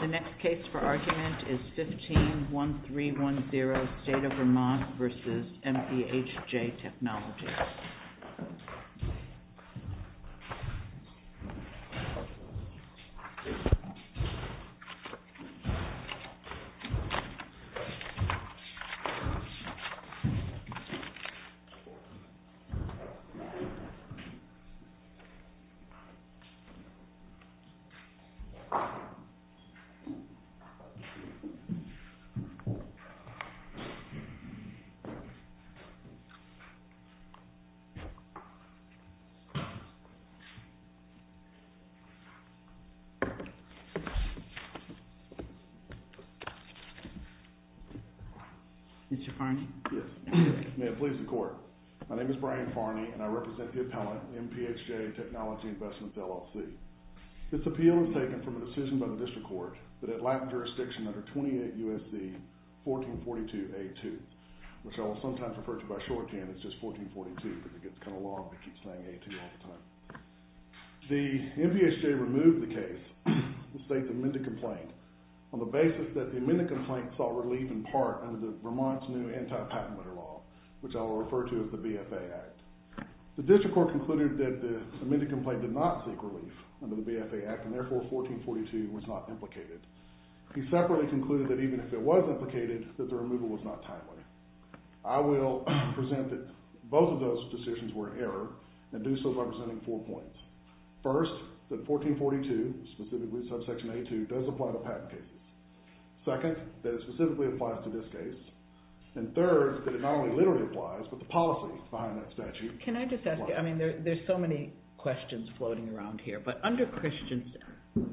The next case for argument is 15-1310, State of Vermont v. MPHJ Technology. Mr. Farney, may it please the court, my name is Brian Farney and I represent the appellant MPHJ Technology Investments, LLC. This appeal is taken from a decision by the District Court that at Latin Jurisdiction under 28 U.S.C. 1442-A-2, which I will sometimes refer to by a short hand, it's just 1442 because it gets kind of long and I keep saying A-2 all the time. The MPHJ removed the case, the State's amended complaint, on the basis that the amended complaint sought relief in part under Vermont's new anti-patent letter law, which I will refer to as the BFA Act. The District Court concluded that the amended complaint did not seek relief under the BFA Act and therefore 1442 was not implicated. He separately concluded that even if it was implicated, that the removal was not timely. I will present that both of those decisions were an error and do so by presenting four points. First, that 1442, specifically subsection A-2, does apply to patent cases. Second, that it specifically applies to this case. And third, that it not only literally applies, but the policy behind that statute applies. Can I just ask you, I mean there's so many questions floating around here, but under Christensen,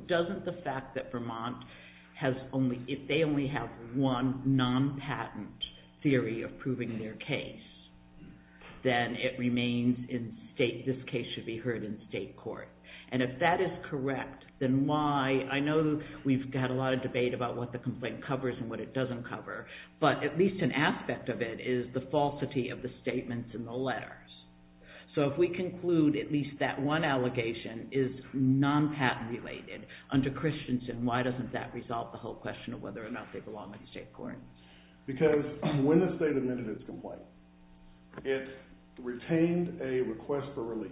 doesn't the fact that Vermont has only, if they only have one non-patent theory of proving their case, then it remains in State, this case should be heard in State Court. And if that is correct, then why, I know we've had a lot of debate about what the complaint covers and what it doesn't cover, but at least an aspect of it is the falsity of the statements in the letters. So if we conclude at least that one allegation is non-patent related under Christensen, why doesn't that resolve the whole question of whether or not they belong in the State Court? Because when the State amended its complaint, it retained a request for relief.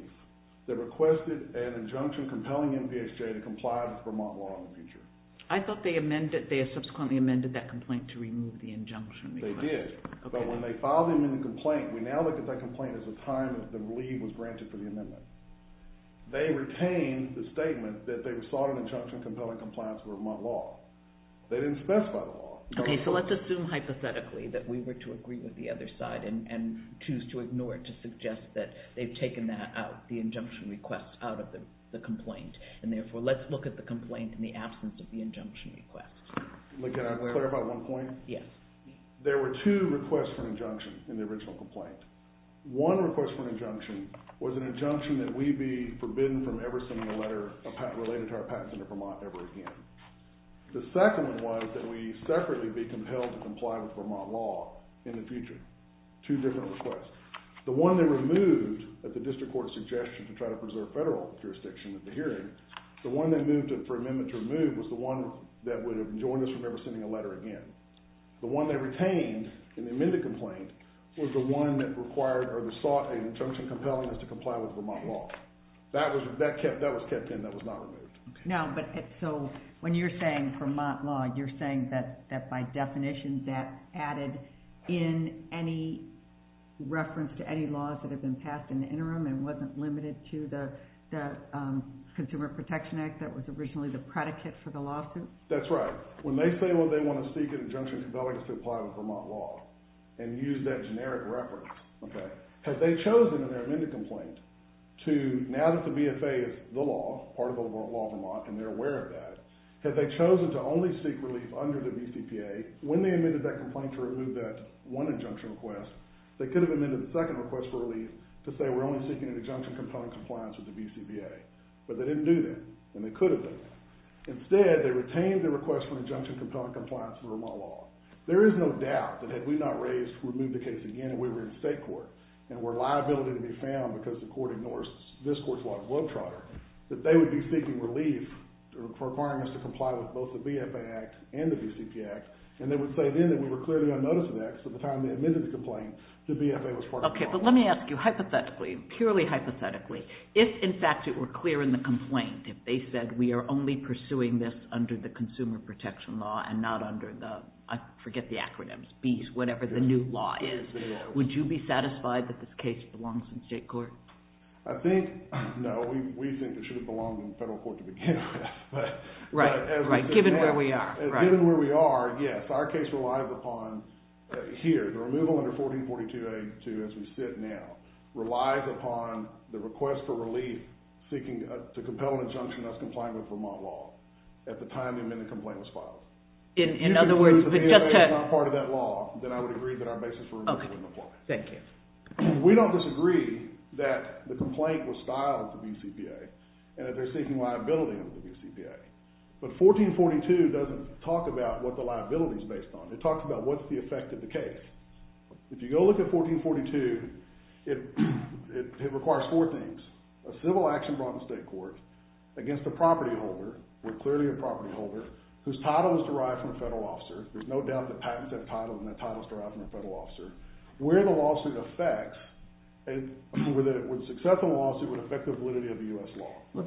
They requested an injunction compelling NPSJ to comply with Vermont law in the future. I thought they amended, they subsequently amended that complaint to remove the injunction. They did. But when they filed the amended complaint, we now look at that complaint as a time that the relief was granted for the amendment. They retained the statement that they sought an injunction compelling compliance with Vermont law. They didn't specify the law. Okay, so let's assume hypothetically that we were to agree with the other side and choose to ignore it to suggest that they've taken that out, the injunction request out of the complaint, and therefore let's look at the complaint in the absence of the injunction request. Can I clarify one point? Yes. There were two requests for an injunction in the original complaint. One request for an injunction was an injunction that we be forbidden from ever sending a letter related to our patents into Vermont ever again. The second one was that we separately be compelled to comply with Vermont law in the future. Two different requests. The one they removed at the district court's suggestion to try to preserve federal jurisdiction at the hearing, the one they moved for amendment to remove was the one that would have joined us from ever sending a letter again. The one they retained in the amended complaint was the one that required or sought an injunction compelling us to comply with Vermont law. That was kept in. That was not removed. Okay. Now, but so when you're saying Vermont law, you're saying that by definition that added in any reference to any laws that have been passed in the interim and wasn't limited to the Consumer Protection Act that was originally the predicate for the lawsuit? That's right. But when they say, well, they want to seek an injunction compelling us to comply with Vermont law and use that generic reference, okay, have they chosen in their amended complaint to now that the BFA is the law, part of the law of Vermont, and they're aware of that, have they chosen to only seek relief under the BCPA when they amended that complaint to remove that one injunction request? They could have amended the second request for relief to say we're only seeking an injunction compelling compliance with the BCPA. But they didn't do that. And they could have done that. Instead, they retained the request for injunction compelling compliance with Vermont law. There is no doubt that had we not raised, removed the case again, and we were in state court, and were liability to be found because the court ignores this court's law as well, Trotter, that they would be seeking relief for requirements to comply with both the BFA Act and the BCPA Act. And they would say then that we were clearly unnoticed of that because at the time they amended the complaint, the BFA was part of the law. Okay. But let me ask you hypothetically, purely hypothetically, if in fact it were clear in the complaint, if they said we are only pursuing this under the consumer protection law and not under the, I forget the acronyms, BEES, whatever the new law is, would you be satisfied that this case belongs in state court? I think no. We think it should have belonged in federal court to begin with. Right. Right. Given where we are. Given where we are, yes. Our case relies upon here, the removal under 1442A2 as we sit now, relies upon the request for relief seeking to compel an injunction not to comply with Vermont law at the time the amended complaint was filed. In other words, but just to... If it proves that the BFA is not part of that law, then I would agree that our basis for removal is in the court. Okay. Thank you. We don't disagree that the complaint was styled to BCPA and that they're seeking liability under the BCPA. But 1442 doesn't talk about what the liability is based on. It talks about what's the effect of the case. If you go look at 1442, it requires four things. A civil action brought in state court against a property holder, or clearly a property holder, whose title is derived from a federal officer. There's no doubt that patents have titles and that title is derived from a federal officer. Where the lawsuit affects, where the success of the lawsuit would affect the validity of the U.S. law. Well,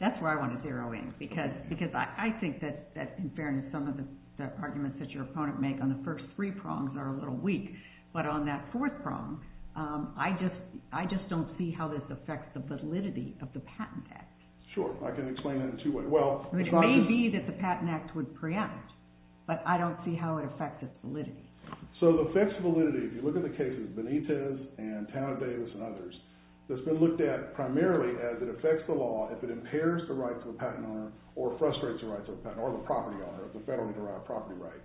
that's where I want to zero in. Because I think that in fairness, some of the arguments that your opponent make on the first three prongs are a little weak. But on that fourth prong, I just don't see how this affects the validity of the Patent Act. Sure. I can explain it in two ways. It may be that the Patent Act would preempt, but I don't see how it affects its validity. So the effects of validity, if you look at the cases of Benitez and Tana Davis and others, that's been looked at primarily as it affects the law if it impairs the rights of the patent owner or frustrates the rights of the patent owner or the property owner, the federally derived property right.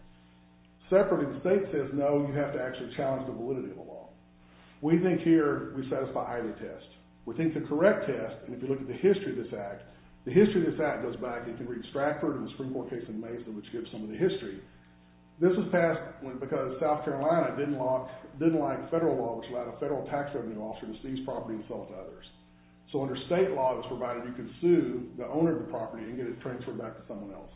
Separately, the state says, no, you have to actually challenge the validity of the law. We think here, we satisfy either test. We think the correct test, and if you look at the history of this act, the history of this act goes back, you can read Stratford and the Supreme Court case in Mason, which gives some of the history. This was passed because South Carolina didn't like federal law, which allowed a federal tax revenue officer to seize property and sell it to others. So under state law, it was provided you could sue the owner of the property and get it transferred back to someone else.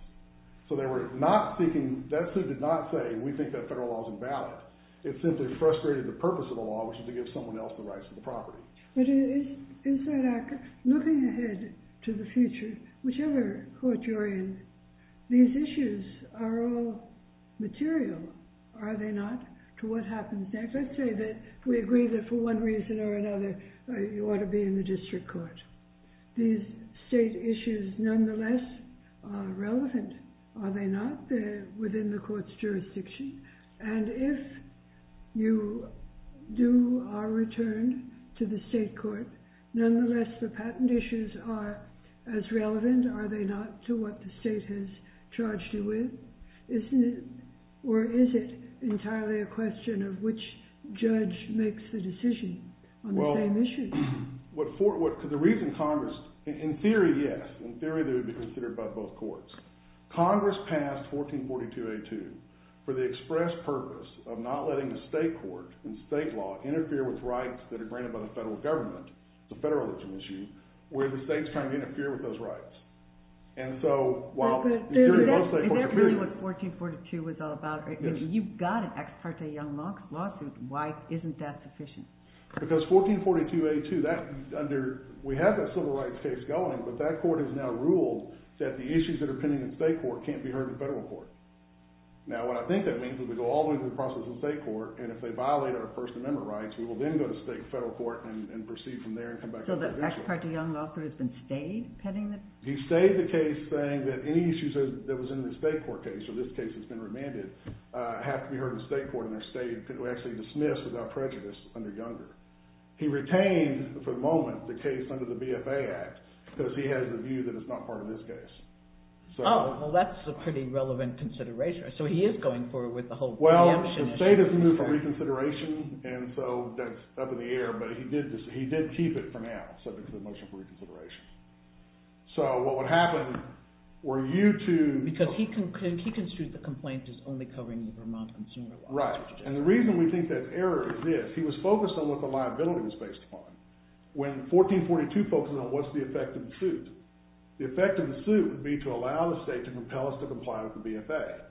So they were not seeking, that suit did not say, we think that federal law is invalid. It simply frustrated the purpose of the law, which is to give someone else the rights to the property. Looking ahead to the future, whichever court you're in, these issues are all material, are they not, to what happens next? Let's say that we agree that for one reason or another, you ought to be in the district court. These state issues, nonetheless, are relevant, are they not? They're within the court's jurisdiction. And if you do our return to the state court, nonetheless, the patent issues are as relevant, are they not, to what the state has charged you with? Or is it entirely a question of which judge makes the decision on the same issue? The reason Congress, in theory, yes. In theory, they would be considered by both courts. Congress passed 1442A2 for the express purpose of not letting the state court and state law interfere with rights that are granted by the federal government. It's a federal issue, where the state's trying to interfere with those rights. And so, while... Is that really what 1442 was all about? You've got an Ex parte Young Lawsuit, why isn't that sufficient? Because 1442A2, that under... We have that civil rights case going, but that court has now ruled that the issues that are pending in state court can't be heard in federal court. Now, what I think that means is we go all the way through the process in state court, and if they violate our First Amendment rights, we will then go to state and federal court and proceed from there and come back to the judicial. So the Ex parte Young Lawsuit has been stayed pending the... He stayed the case saying that any issues that was in the state court case, or this case that's been remanded, have to be heard in state court and are stayed... He retained, for the moment, the case under the BFA Act, because he has a view that it's not part of this case. Oh, well that's a pretty relevant consideration. So he is going forward with the whole... Well, the state has moved for reconsideration, and so that's up in the air, but he did keep it for now, subject to the motion for reconsideration. So what would happen were you to... Because he construed the complaint as only covering the Vermont Consumer Lawsuit. Right. And the reason we think that's error is this. He was focused on what the liability was based upon. When 1442 focuses on what's the effect of the suit, the effect of the suit would be to allow the state to compel us to comply with the BFA.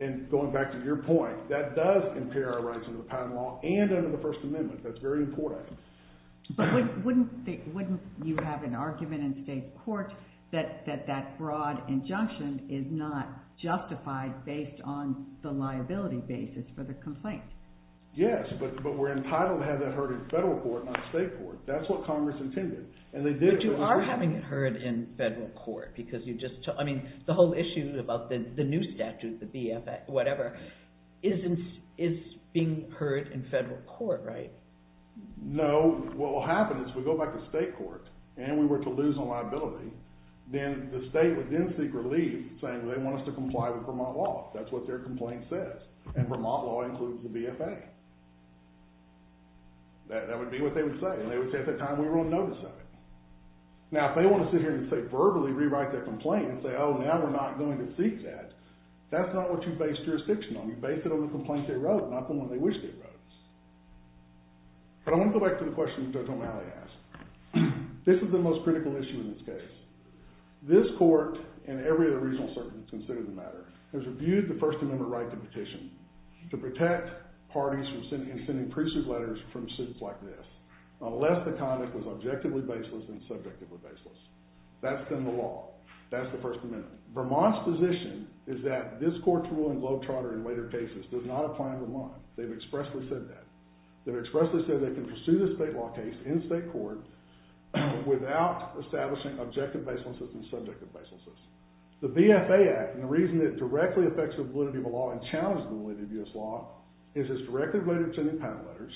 And going back to your point, that does impair our rights under the patent law and under the First Amendment. That's very important. But wouldn't you have an argument in state court that that broad injunction is not justified based on the liability basis for the complaint? Yes, but we're entitled to have that heard in federal court, not state court. That's what Congress intended, and they did... But you are having it heard in federal court, because you just... I mean, the whole issue about the new statute, the BFA, whatever, is being heard in federal court, right? No. What will happen is we go back to state court, and we were to lose on liability, then the And Vermont law includes the BFA. That would be what they would say, and they would say, at that time, we were on notice of it. Now, if they want to sit here and, say, verbally rewrite their complaint and say, oh, now we're not going to seek that, that's not what you base jurisdiction on. You base it on the complaint they wrote, not the one they wish they wrote. But I want to go back to the question Judge O'Malley asked. This is the most critical issue in this case. This court, and every other regional circuit that considers the matter, has reviewed the First Amendment right to petition to protect parties in sending priesthood letters from suits like this, unless the conduct was objectively baseless and subjectively baseless. That's in the law. That's the First Amendment. Vermont's position is that this court's rule in globe charter in later cases does not apply in Vermont. They've expressly said that. They've expressly said they can pursue the state law case in state court without establishing objective baselessness and subjective baselessness. The BFA Act, and the reason it directly affects the validity of the law and challenges the validity of U.S. law, is it's directly related to sending patent letters,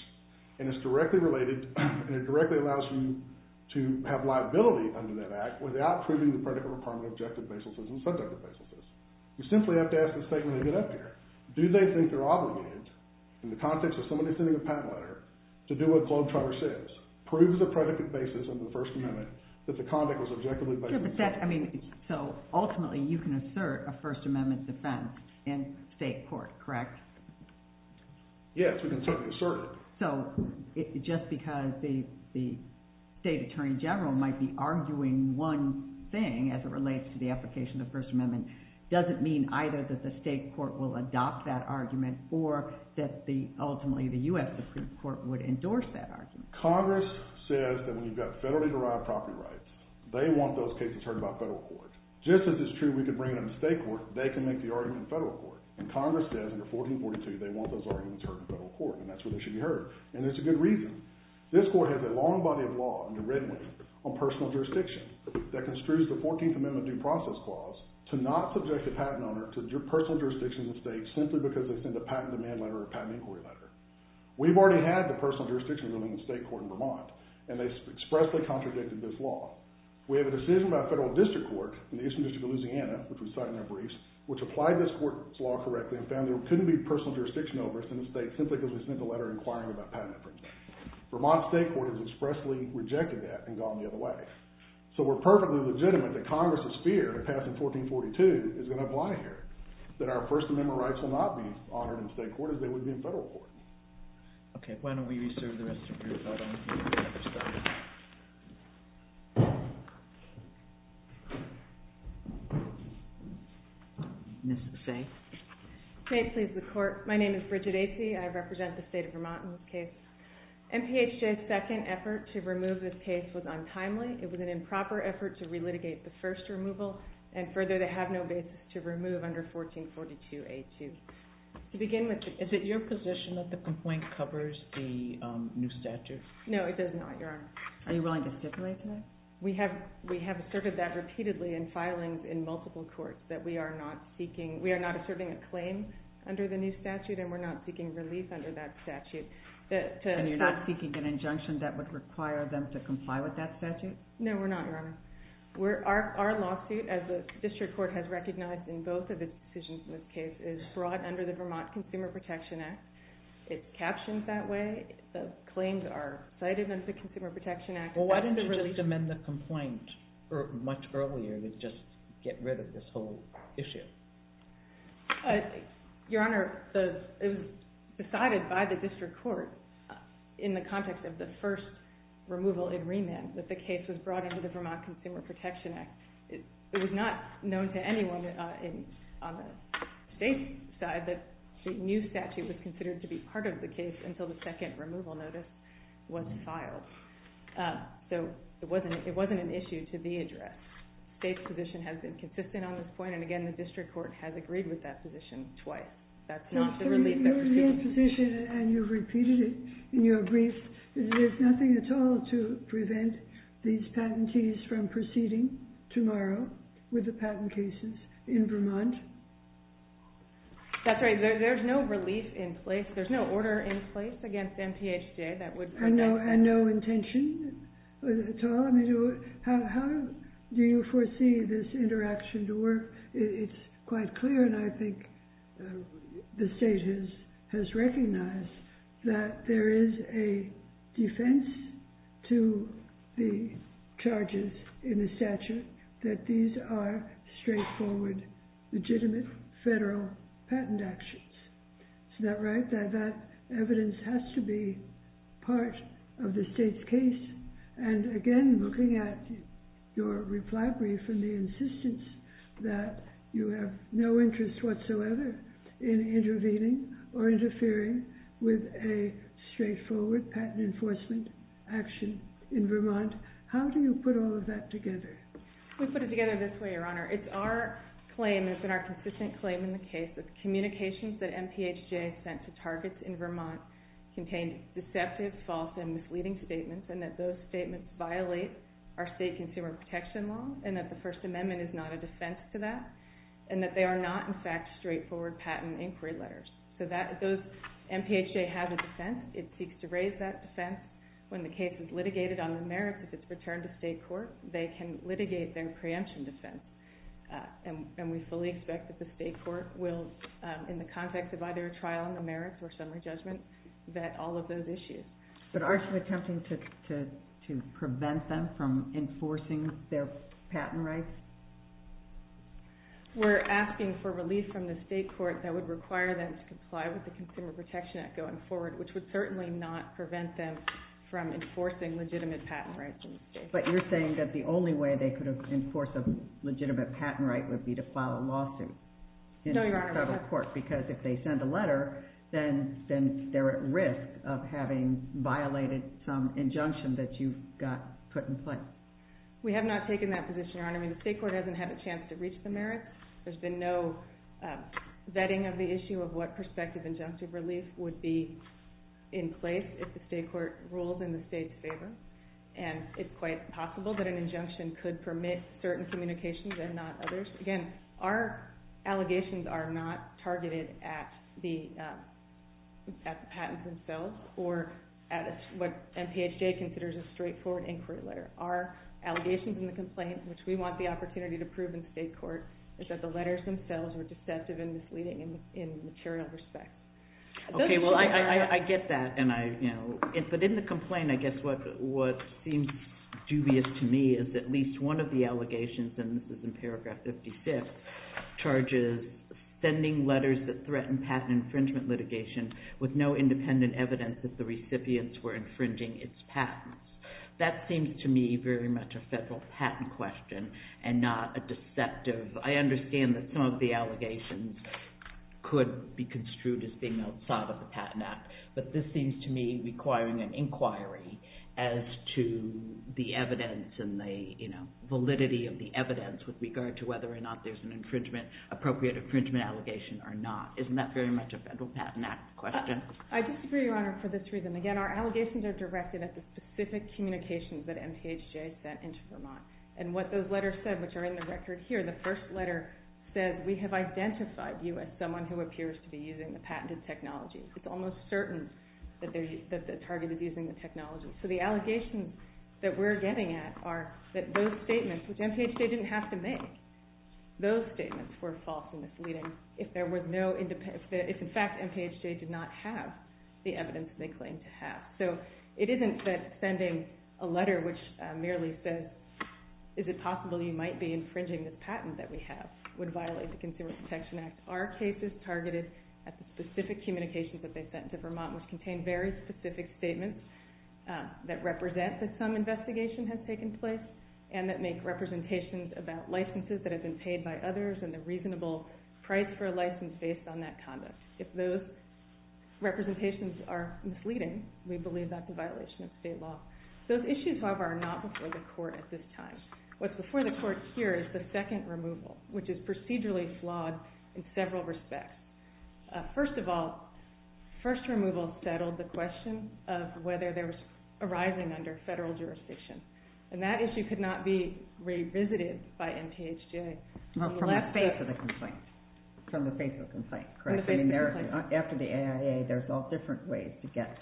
and it's directly related, and it directly allows you to have liability under that Act without proving the predicate requirement of objective baselessness and subjective baselessness. You simply have to ask the state when they get up here, do they think they're obligated, in the context of somebody sending a patent letter, to do what globe charter says, prove the predicate basis of the First Amendment, that the conduct was objectively baseless. Ultimately, you can assert a First Amendment defense in state court, correct? Yes, we can certainly assert it. Just because the state attorney general might be arguing one thing as it relates to the application of the First Amendment, doesn't mean either that the state court will adopt that argument, or that ultimately the U.S. Supreme Court would endorse that argument. Congress says that when you've got federally derived property rights, they want those cases heard by federal court. Just as it's true we can bring them to state court, they can make the argument in federal court, and Congress says under 1442 they want those arguments heard in federal court, and that's where they should be heard, and there's a good reason. This court has a long body of law under Red Wing on personal jurisdiction that construes the 14th Amendment due process clause to not subject a patent owner to personal jurisdiction in the state simply because they send a patent demand letter or a patent inquiry letter. We've already had the personal jurisdiction ruling in state court in Vermont, and they expressly contradicted this law. We have a decision by a federal district court in the Eastern District of Louisiana, which we cite in our briefs, which applied this court's law correctly and found there couldn't be personal jurisdiction over us in the state simply because we sent a letter inquiring about patent infringement. Vermont state court has expressly rejected that and gone the other way. So we're perfectly legitimate that Congress's fear of passing 1442 is going to apply here, that our First Amendment rights will not be honored in state court as they would be in Vermont. Okay. Why don't we reserve the rest of the group. I don't think we have time. Ms. Faye? May it please the Court. My name is Bridget Acy. I represent the state of Vermont in this case. MPHJ's second effort to remove this case was untimely. It was an improper effort to re-litigate the first removal, and further, they have no basis Thank you. Thank you. Thank you. Thank you. Thank you. Thank you. Thank you. Thank you. Thank you. Thank you. Thank you. Does this complaint cover the new statute? No, it does not, Your Honor. Are you willing to stipulate that? We have asserted that repeatedly in filings in multiple courts, that we are not asserting a claim under the new statute and we are not seeking a relief under that statute. And you're not seeking an injunction that would require them to comply with that statute? No, we're not Your Honor. Our lawsuit, as the district court has recognized in both of its decisions in this case, is brought under the Vermont Consumer Protection Act. It's captioned that way, the claims are cited under the Consumer Protection Act. Well, why didn't the district amend the complaint much earlier to just get rid of this whole issue? Your Honor, it was decided by the district court, in the context of the first removal in remand, that the case was brought under the Vermont Consumer Protection Act. It was not known to anyone on the state side that the new statute was considered to be part of the case until the second removal notice was filed. So it wasn't an issue to be addressed. The state's position has been consistent on this point and again, the district court has agreed with that position twice. That's not the relief that we're seeking. Your position, and you've repeated it in your brief, is that there's nothing at all to prevent these patentees from proceeding tomorrow with the patent cases in Vermont? That's right, there's no relief in place, there's no order in place against MPHJ that would prevent that. And no intention at all? How do you foresee this interaction to work? It's quite clear and I think the state has recognized that there is a defense to the charges in the statute that these are straightforward, legitimate federal patent actions. Isn't that right? That evidence has to be part of the state's case and again, looking at your reply brief and the insistence that you have no interest whatsoever in intervening or interfering with a straightforward patent enforcement action in Vermont. How do you put all of that together? We put it together this way, Your Honor. It's our claim, it's been our consistent claim in the case that communications that MPHJ sent to targets in Vermont contained deceptive, false, and misleading statements and that those statements violate our state consumer protection law and that the First Amendment is not a defense to that and that they are not, in fact, straightforward patent inquiry letters. So MPHJ has a defense, it seeks to raise that defense. When the case is litigated on the merits, if it's returned to state court, they can litigate their preemption defense and we fully expect that the state court will, in the context of either a trial on the merits or summary judgment, vet all of those issues. But are you attempting to prevent them from enforcing their patent rights? We're asking for relief from the state court that would require them to comply with the Consumer Protection Act going forward, which would certainly not prevent them from enforcing legitimate patent rights in the state court. But you're saying that the only way they could enforce a legitimate patent right would be to file a lawsuit? No, Your Honor. Because if they send a letter, then they're at risk of having violated some injunction that you've got put in place. We have not taken that position, Your Honor. I mean, the state court hasn't had a chance to reach the merits. There's been no vetting of the issue of what perspective injunctive relief would be in place if the state court rules in the state's favor. And it's quite possible that an injunction could permit certain communications and not others. Again, our allegations are not targeted at the patents themselves or at what MPHA considers a straightforward inquiry letter. Our allegations in the complaint, which we want the opportunity to prove in state court, is that the letters themselves were deceptive and misleading in material respect. Okay, well, I get that. But in the complaint, I guess what seems dubious to me is at least one of the allegations, and this is in paragraph 55, charges sending letters that threaten patent infringement litigation with no independent evidence that the recipients were infringing its patents. That seems to me very much a federal patent question and not a deceptive. I understand that some of the allegations could be construed as being outside of the Patent Act, but this seems to me requiring an inquiry as to the evidence and the validity of the evidence with regard to whether or not there's an appropriate infringement allegation or not. Isn't that very much a Federal Patent Act question? I disagree, Your Honor, for this reason. Again, our allegations are directed at the specific communications that MPHA sent into Vermont. And what those letters said, which are in the record here, the first letter said, we have identified you as someone who appears to be using the patented technology. It's almost certain that the target is using the technology. So the allegations that we're getting at are that those statements, which MPHA didn't have to make, those statements were false and misleading if in fact MPHA did not have the evidence they claimed to have. So it isn't that sending a letter which merely says, is it possible you might be infringing this patent that we have, would violate the Consumer Protection Act. Our case is targeted at the specific communications that they sent to Vermont, which contain very specific statements that represent that some investigation has taken place and that make representations about licenses that have been paid by others and the reasonable price for a license based on that conduct. If those representations are misleading, we believe that's a violation of state law. Those issues, however, are not before the Court at this time. What's before the Court here is the second removal, which is procedurally flawed in several respects. First of all, first removal settled the question of whether there was arising under federal jurisdiction. And that issue could not be revisited by MPHA. Well, from the face of the complaint. From the face of the complaint, correct. From the face of the complaint. After the AIA, there's all different ways to get,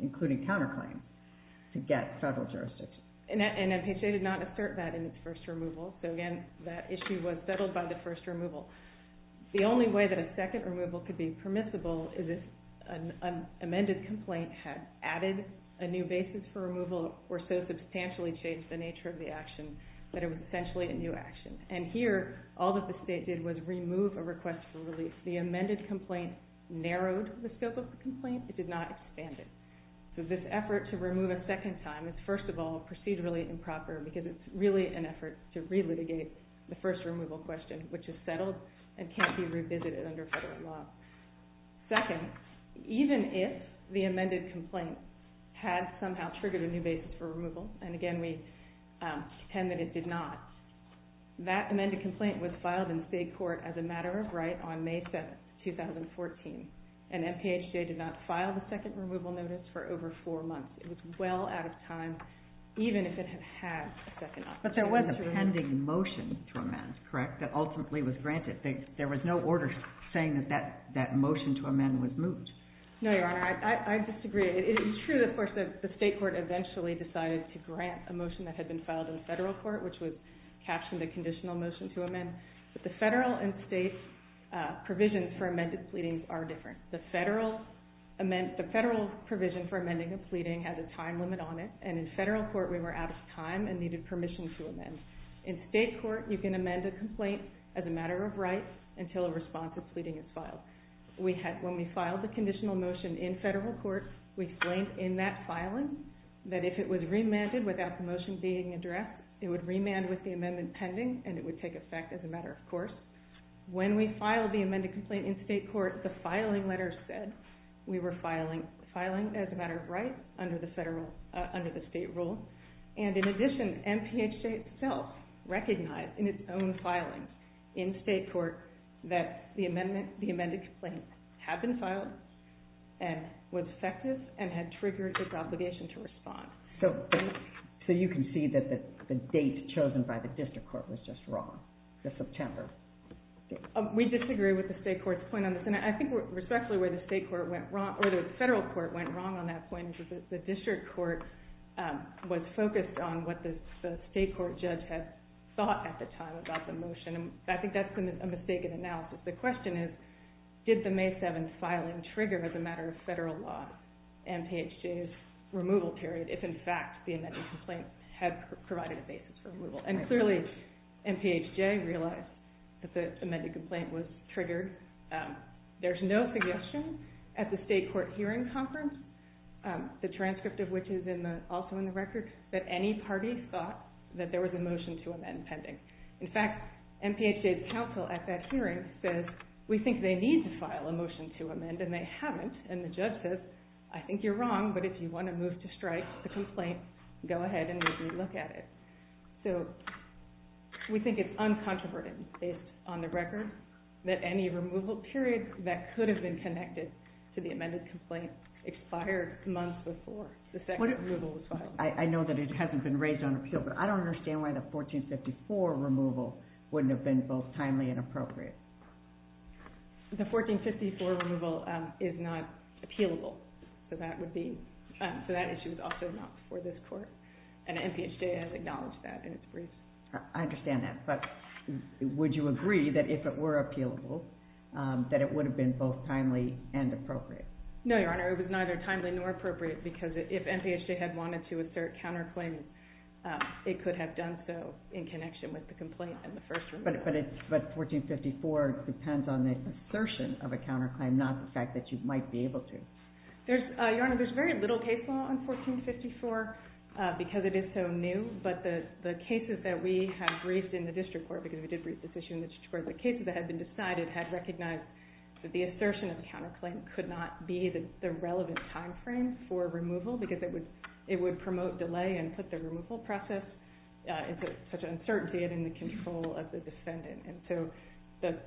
including counterclaim, to get federal jurisdiction. And MPHA did not assert that in its first removal. So again, that issue was settled by the first removal. The only way that a second removal could be permissible is if an amended complaint had added a new basis for removal or so substantially changed the nature of the action that it was essentially a new action. And here, all that the state did was remove a request for release. The amended complaint narrowed the scope of the complaint. It did not expand it. So this effort to remove a second time is, first of all, procedurally improper because it's really an effort to relitigate the first removal question, which is settled and can't be revisited under federal law. Second, even if the amended complaint had somehow triggered a new basis for removal, and again, we contend that it did not, that amended complaint was filed in state court as a matter of right on May 7th, 2014. And MPHA did not file the second removal notice for over four months. It was well out of time, even if it had had a second option. But there was a pending motion to amend, correct, that ultimately was granted. There was no order saying that that motion to amend was moved. No, Your Honor. I disagree. It is true, of course, that the state court eventually decided to grant a motion that had been filed in federal court, which was captioned a conditional motion to amend. But the federal and state provisions for amended pleadings are different. The federal provision for amending a pleading has a time limit on it, and in federal court we were out of time and needed permission to amend. In state court, you can amend a complaint as a matter of right until a response to pleading is filed. When we filed the conditional motion in federal court, we explained in that filing that if it was remanded without the motion being addressed, it would remand with the amendment pending and it would take effect as a matter of course. When we filed the amended complaint in state court, the filing letter said we were filing as a matter of right under the state rule, and in addition, MPHJ itself recognized in its own filing in state court that the amended complaint had been filed and was effective and had triggered its obligation to respond. So you can see that the date chosen by the district court was just wrong. It's September. We disagree with the state court's point on this, and I think where the federal court went wrong on that point is that the district court was focused on what the state court judge had thought at the time about the motion. I think that's been a mistaken analysis. The question is, did the May 7th filing trigger as a matter of federal law MPHJ's removal and clearly MPHJ realized that the amended complaint was triggered. There's no suggestion at the state court hearing conference, the transcript of which is also in the record, that any party thought that there was a motion to amend pending. In fact, MPHJ's counsel at that hearing says, we think they need to file a motion to amend and they haven't, and the judge says, I think you're wrong, but if you want to move to strike the complaint, go ahead and maybe look at it. So, we think it's uncontroverted based on the record that any removal period that could have been connected to the amended complaint expired months before the second removal was filed. I know that it hasn't been raised on appeal, but I don't understand why the 1454 removal wouldn't have been both timely and appropriate. The 1454 removal is not appealable, so that issue is also not before this court. And MPHJ has acknowledged that in its briefs. I understand that, but would you agree that if it were appealable, that it would have been both timely and appropriate? No, Your Honor, it was neither timely nor appropriate because if MPHJ had wanted to assert counterclaim, it could have done so in connection with the complaint and the first removal. But 1454 depends on the assertion of a counterclaim, not the fact that you might be able to. Your Honor, there's very little case law on 1454 because it is so new. But the cases that we have briefed in the district court, because we did brief this issue in the district court, the cases that had been decided had recognized that the assertion of a counterclaim could not be the relevant time frame for removal because it would promote delay and put the removal process into such uncertainty and in the control of the defendant. And so,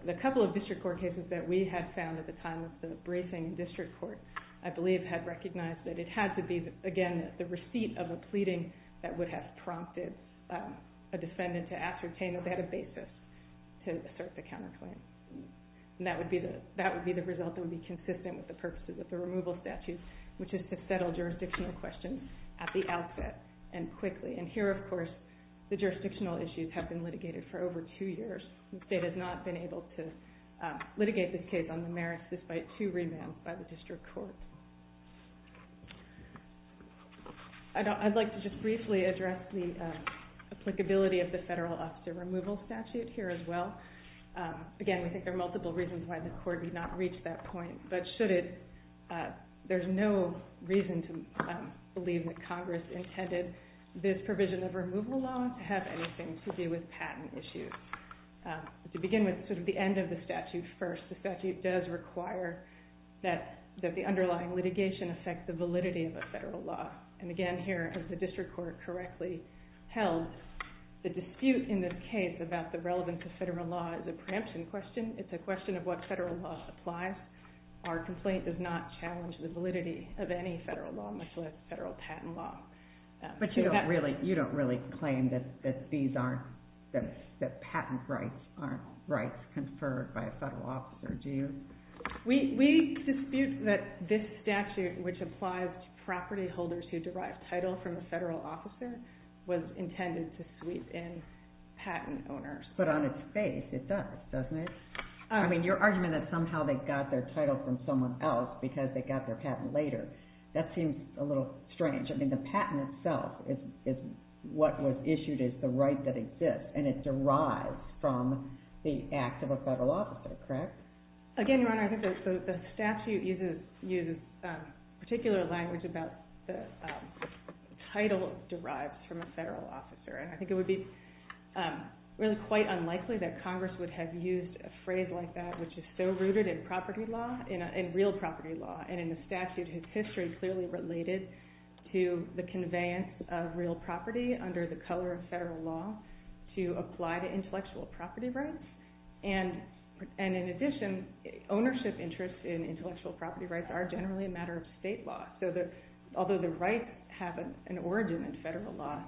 the couple of district court cases that we had found at the time of the briefing in district court, I believe, had recognized that it had to be, again, the receipt of a pleading that would have prompted a defendant to ascertain a better basis to assert the counterclaim. And that would be the result that would be consistent with the purposes of the removal statute, which is to settle jurisdictional questions at the outset and quickly. And here, of course, the jurisdictional issues have been litigated for over two years. The state has not been able to litigate this case on the merits despite two remands by the district court. I'd like to just briefly address the applicability of the federal officer removal statute here as well. Again, we think there are multiple reasons why the court did not reach that point, but there's no reason to believe that Congress intended this provision of removal law to have anything to do with patent issues. To begin with, sort of the end of the statute first. The statute does require that the underlying litigation affect the validity of a federal law. And again, here, as the district court correctly held, the dispute in this case about the relevance of federal law is a preemption question. It's a question of what federal law applies. Our complaint does not challenge the validity of any federal law, much less federal patent law. But you don't really claim that patent rights aren't rights conferred by a federal officer, do you? We dispute that this statute, which applies to property holders who derive title from a federal officer, was intended to sweep in patent owners. But on its face, it does, doesn't it? I mean, your argument that somehow they got their title from someone else because they got their patent later, that seems a little strange. I mean, the patent itself is what was issued as the right that exists, and it derives from the act of a federal officer, correct? Again, Your Honor, I think the statute uses particular language about the title derives from a federal officer. And I think it would be really quite unlikely that Congress would have used a phrase like that, which is so rooted in property law, in real property law. And in the statute, its history clearly related to the conveyance of real property under the color of federal law to apply to intellectual property rights. And in addition, ownership interests in intellectual property rights are generally a matter of state law. So although the rights have an origin in federal law,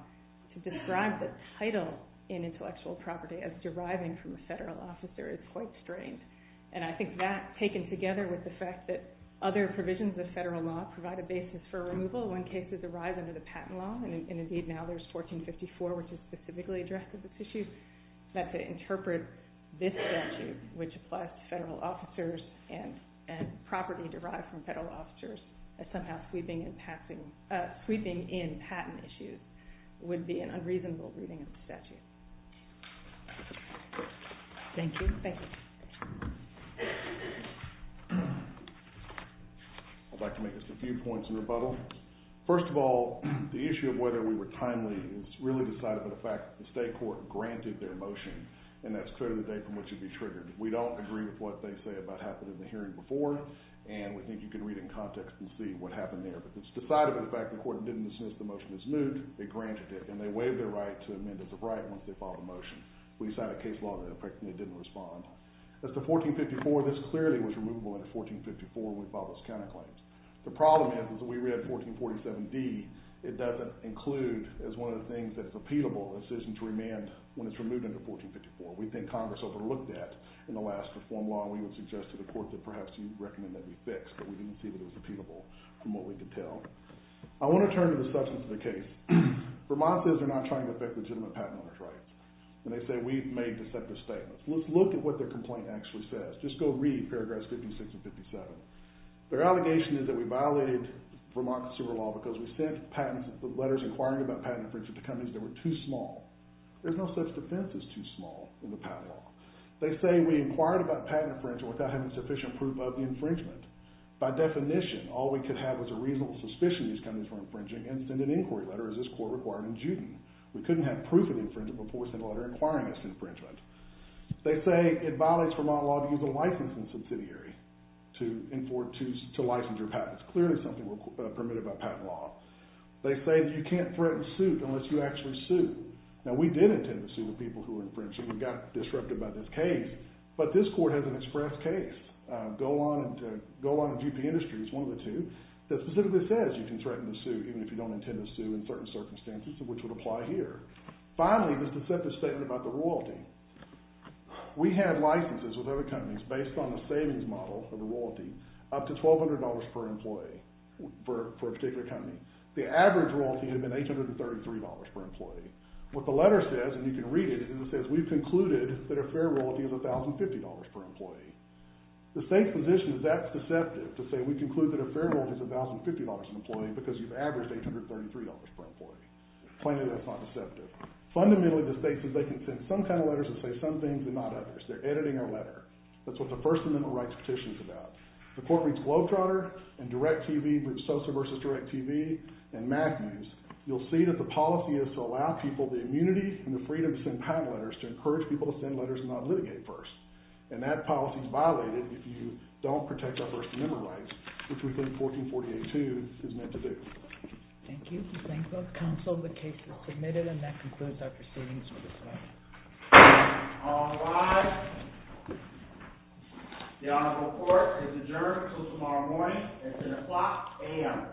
to describe the title in intellectual property as deriving from a federal officer is quite strange. And I think that, taken together with the fact that other provisions of federal law provide a basis for removal when cases arise under the patent law, and indeed now there's 1454, which is specifically addressed as an issue, that to interpret this statute, which applies to federal officers and property derived from federal officers, as somehow sweeping in patent issues, would be an unreasonable reading of the statute. Thank you. I'd like to make just a few points in rebuttal. First of all, the issue of whether we were timely is really decided by the fact that the state court granted their motion. And that's clear to the day from which it'd be triggered. We don't agree with what they say about what happened in the hearing before, and we think you can read in context and see what happened there. But it's decided by the fact that the court didn't dismiss the motion as moot. They granted it, and they waived their right to amend it as a right once they filed the motion. We signed a case law that effectively didn't respond. As to 1454, this clearly was removable under 1454 when we filed those counterclaims. The problem is, is that we read 1447d, it doesn't include as one of the things that is repeatable a decision to remand when it's removed under 1454. We think Congress overlooked that in the last reform law, and we would suggest to the court that perhaps you'd recommend that be fixed, but we didn't see that it was repeatable from what we could tell. I want to turn to the substance of the case. Vermont says they're not trying to affect legitimate patent owner's rights, and they say we've made deceptive statements. Let's look at what their complaint actually says. Just go read paragraphs 56 and 57. Their allegation is that we violated Vermont's civil law because we sent letters inquiring about patent infringement to companies that were too small. There's no such defense as too small in the patent law. They say we inquired about patent infringement without having sufficient proof of the infringement. By definition, all we could have was a reasonable suspicion these companies were infringing and send an inquiry letter, as this court required in Juden. We couldn't have proof of the infringement before we sent a letter inquiring us to infringement. They say it violates Vermont law to use a licensing subsidiary to license your patents. Clearly something permitted by patent law. They say you can't threaten suit unless you actually sue. Now we did intend to sue the people who were infringing and got disrupted by this case, but this court has an express case. Golan and G.P. Industries, one of the two, that specifically says you can threaten to sue even if you don't intend to sue in certain circumstances, which would apply here. Finally, this deceptive statement about the royalty. We had licenses with other companies based on the savings model for the royalty up to $1,200 per employee for a particular company. The average royalty had been $833 per employee. What the letter says, and you can read it, is it says we've concluded that a fair royalty is $1,050 per employee. The state's position is that's deceptive, to say we conclude that a fair royalty is $1,050 per employee because you've averaged $833 per employee. Plainly, that's not deceptive. Fundamentally, the state says they can send some kind of letters that say some things and not others. They're editing our letter. That's what the First Amendment rights petition is about. The court reads Globetrotter and Direct TV, which is Sosa versus Direct TV, and MAG News. You'll see that the policy is to allow people the immunity and the freedom to send patent letters to encourage people to send letters and not litigate first. That policy is violated if you don't protect our First Amendment rights, which we think 1448-2 is meant to do. Thank you. Thank you both counsel. The case is submitted and that concludes our proceedings for this morning. All rise. The honorable court is adjourned until tomorrow morning at 10 o'clock a.m. Thank you.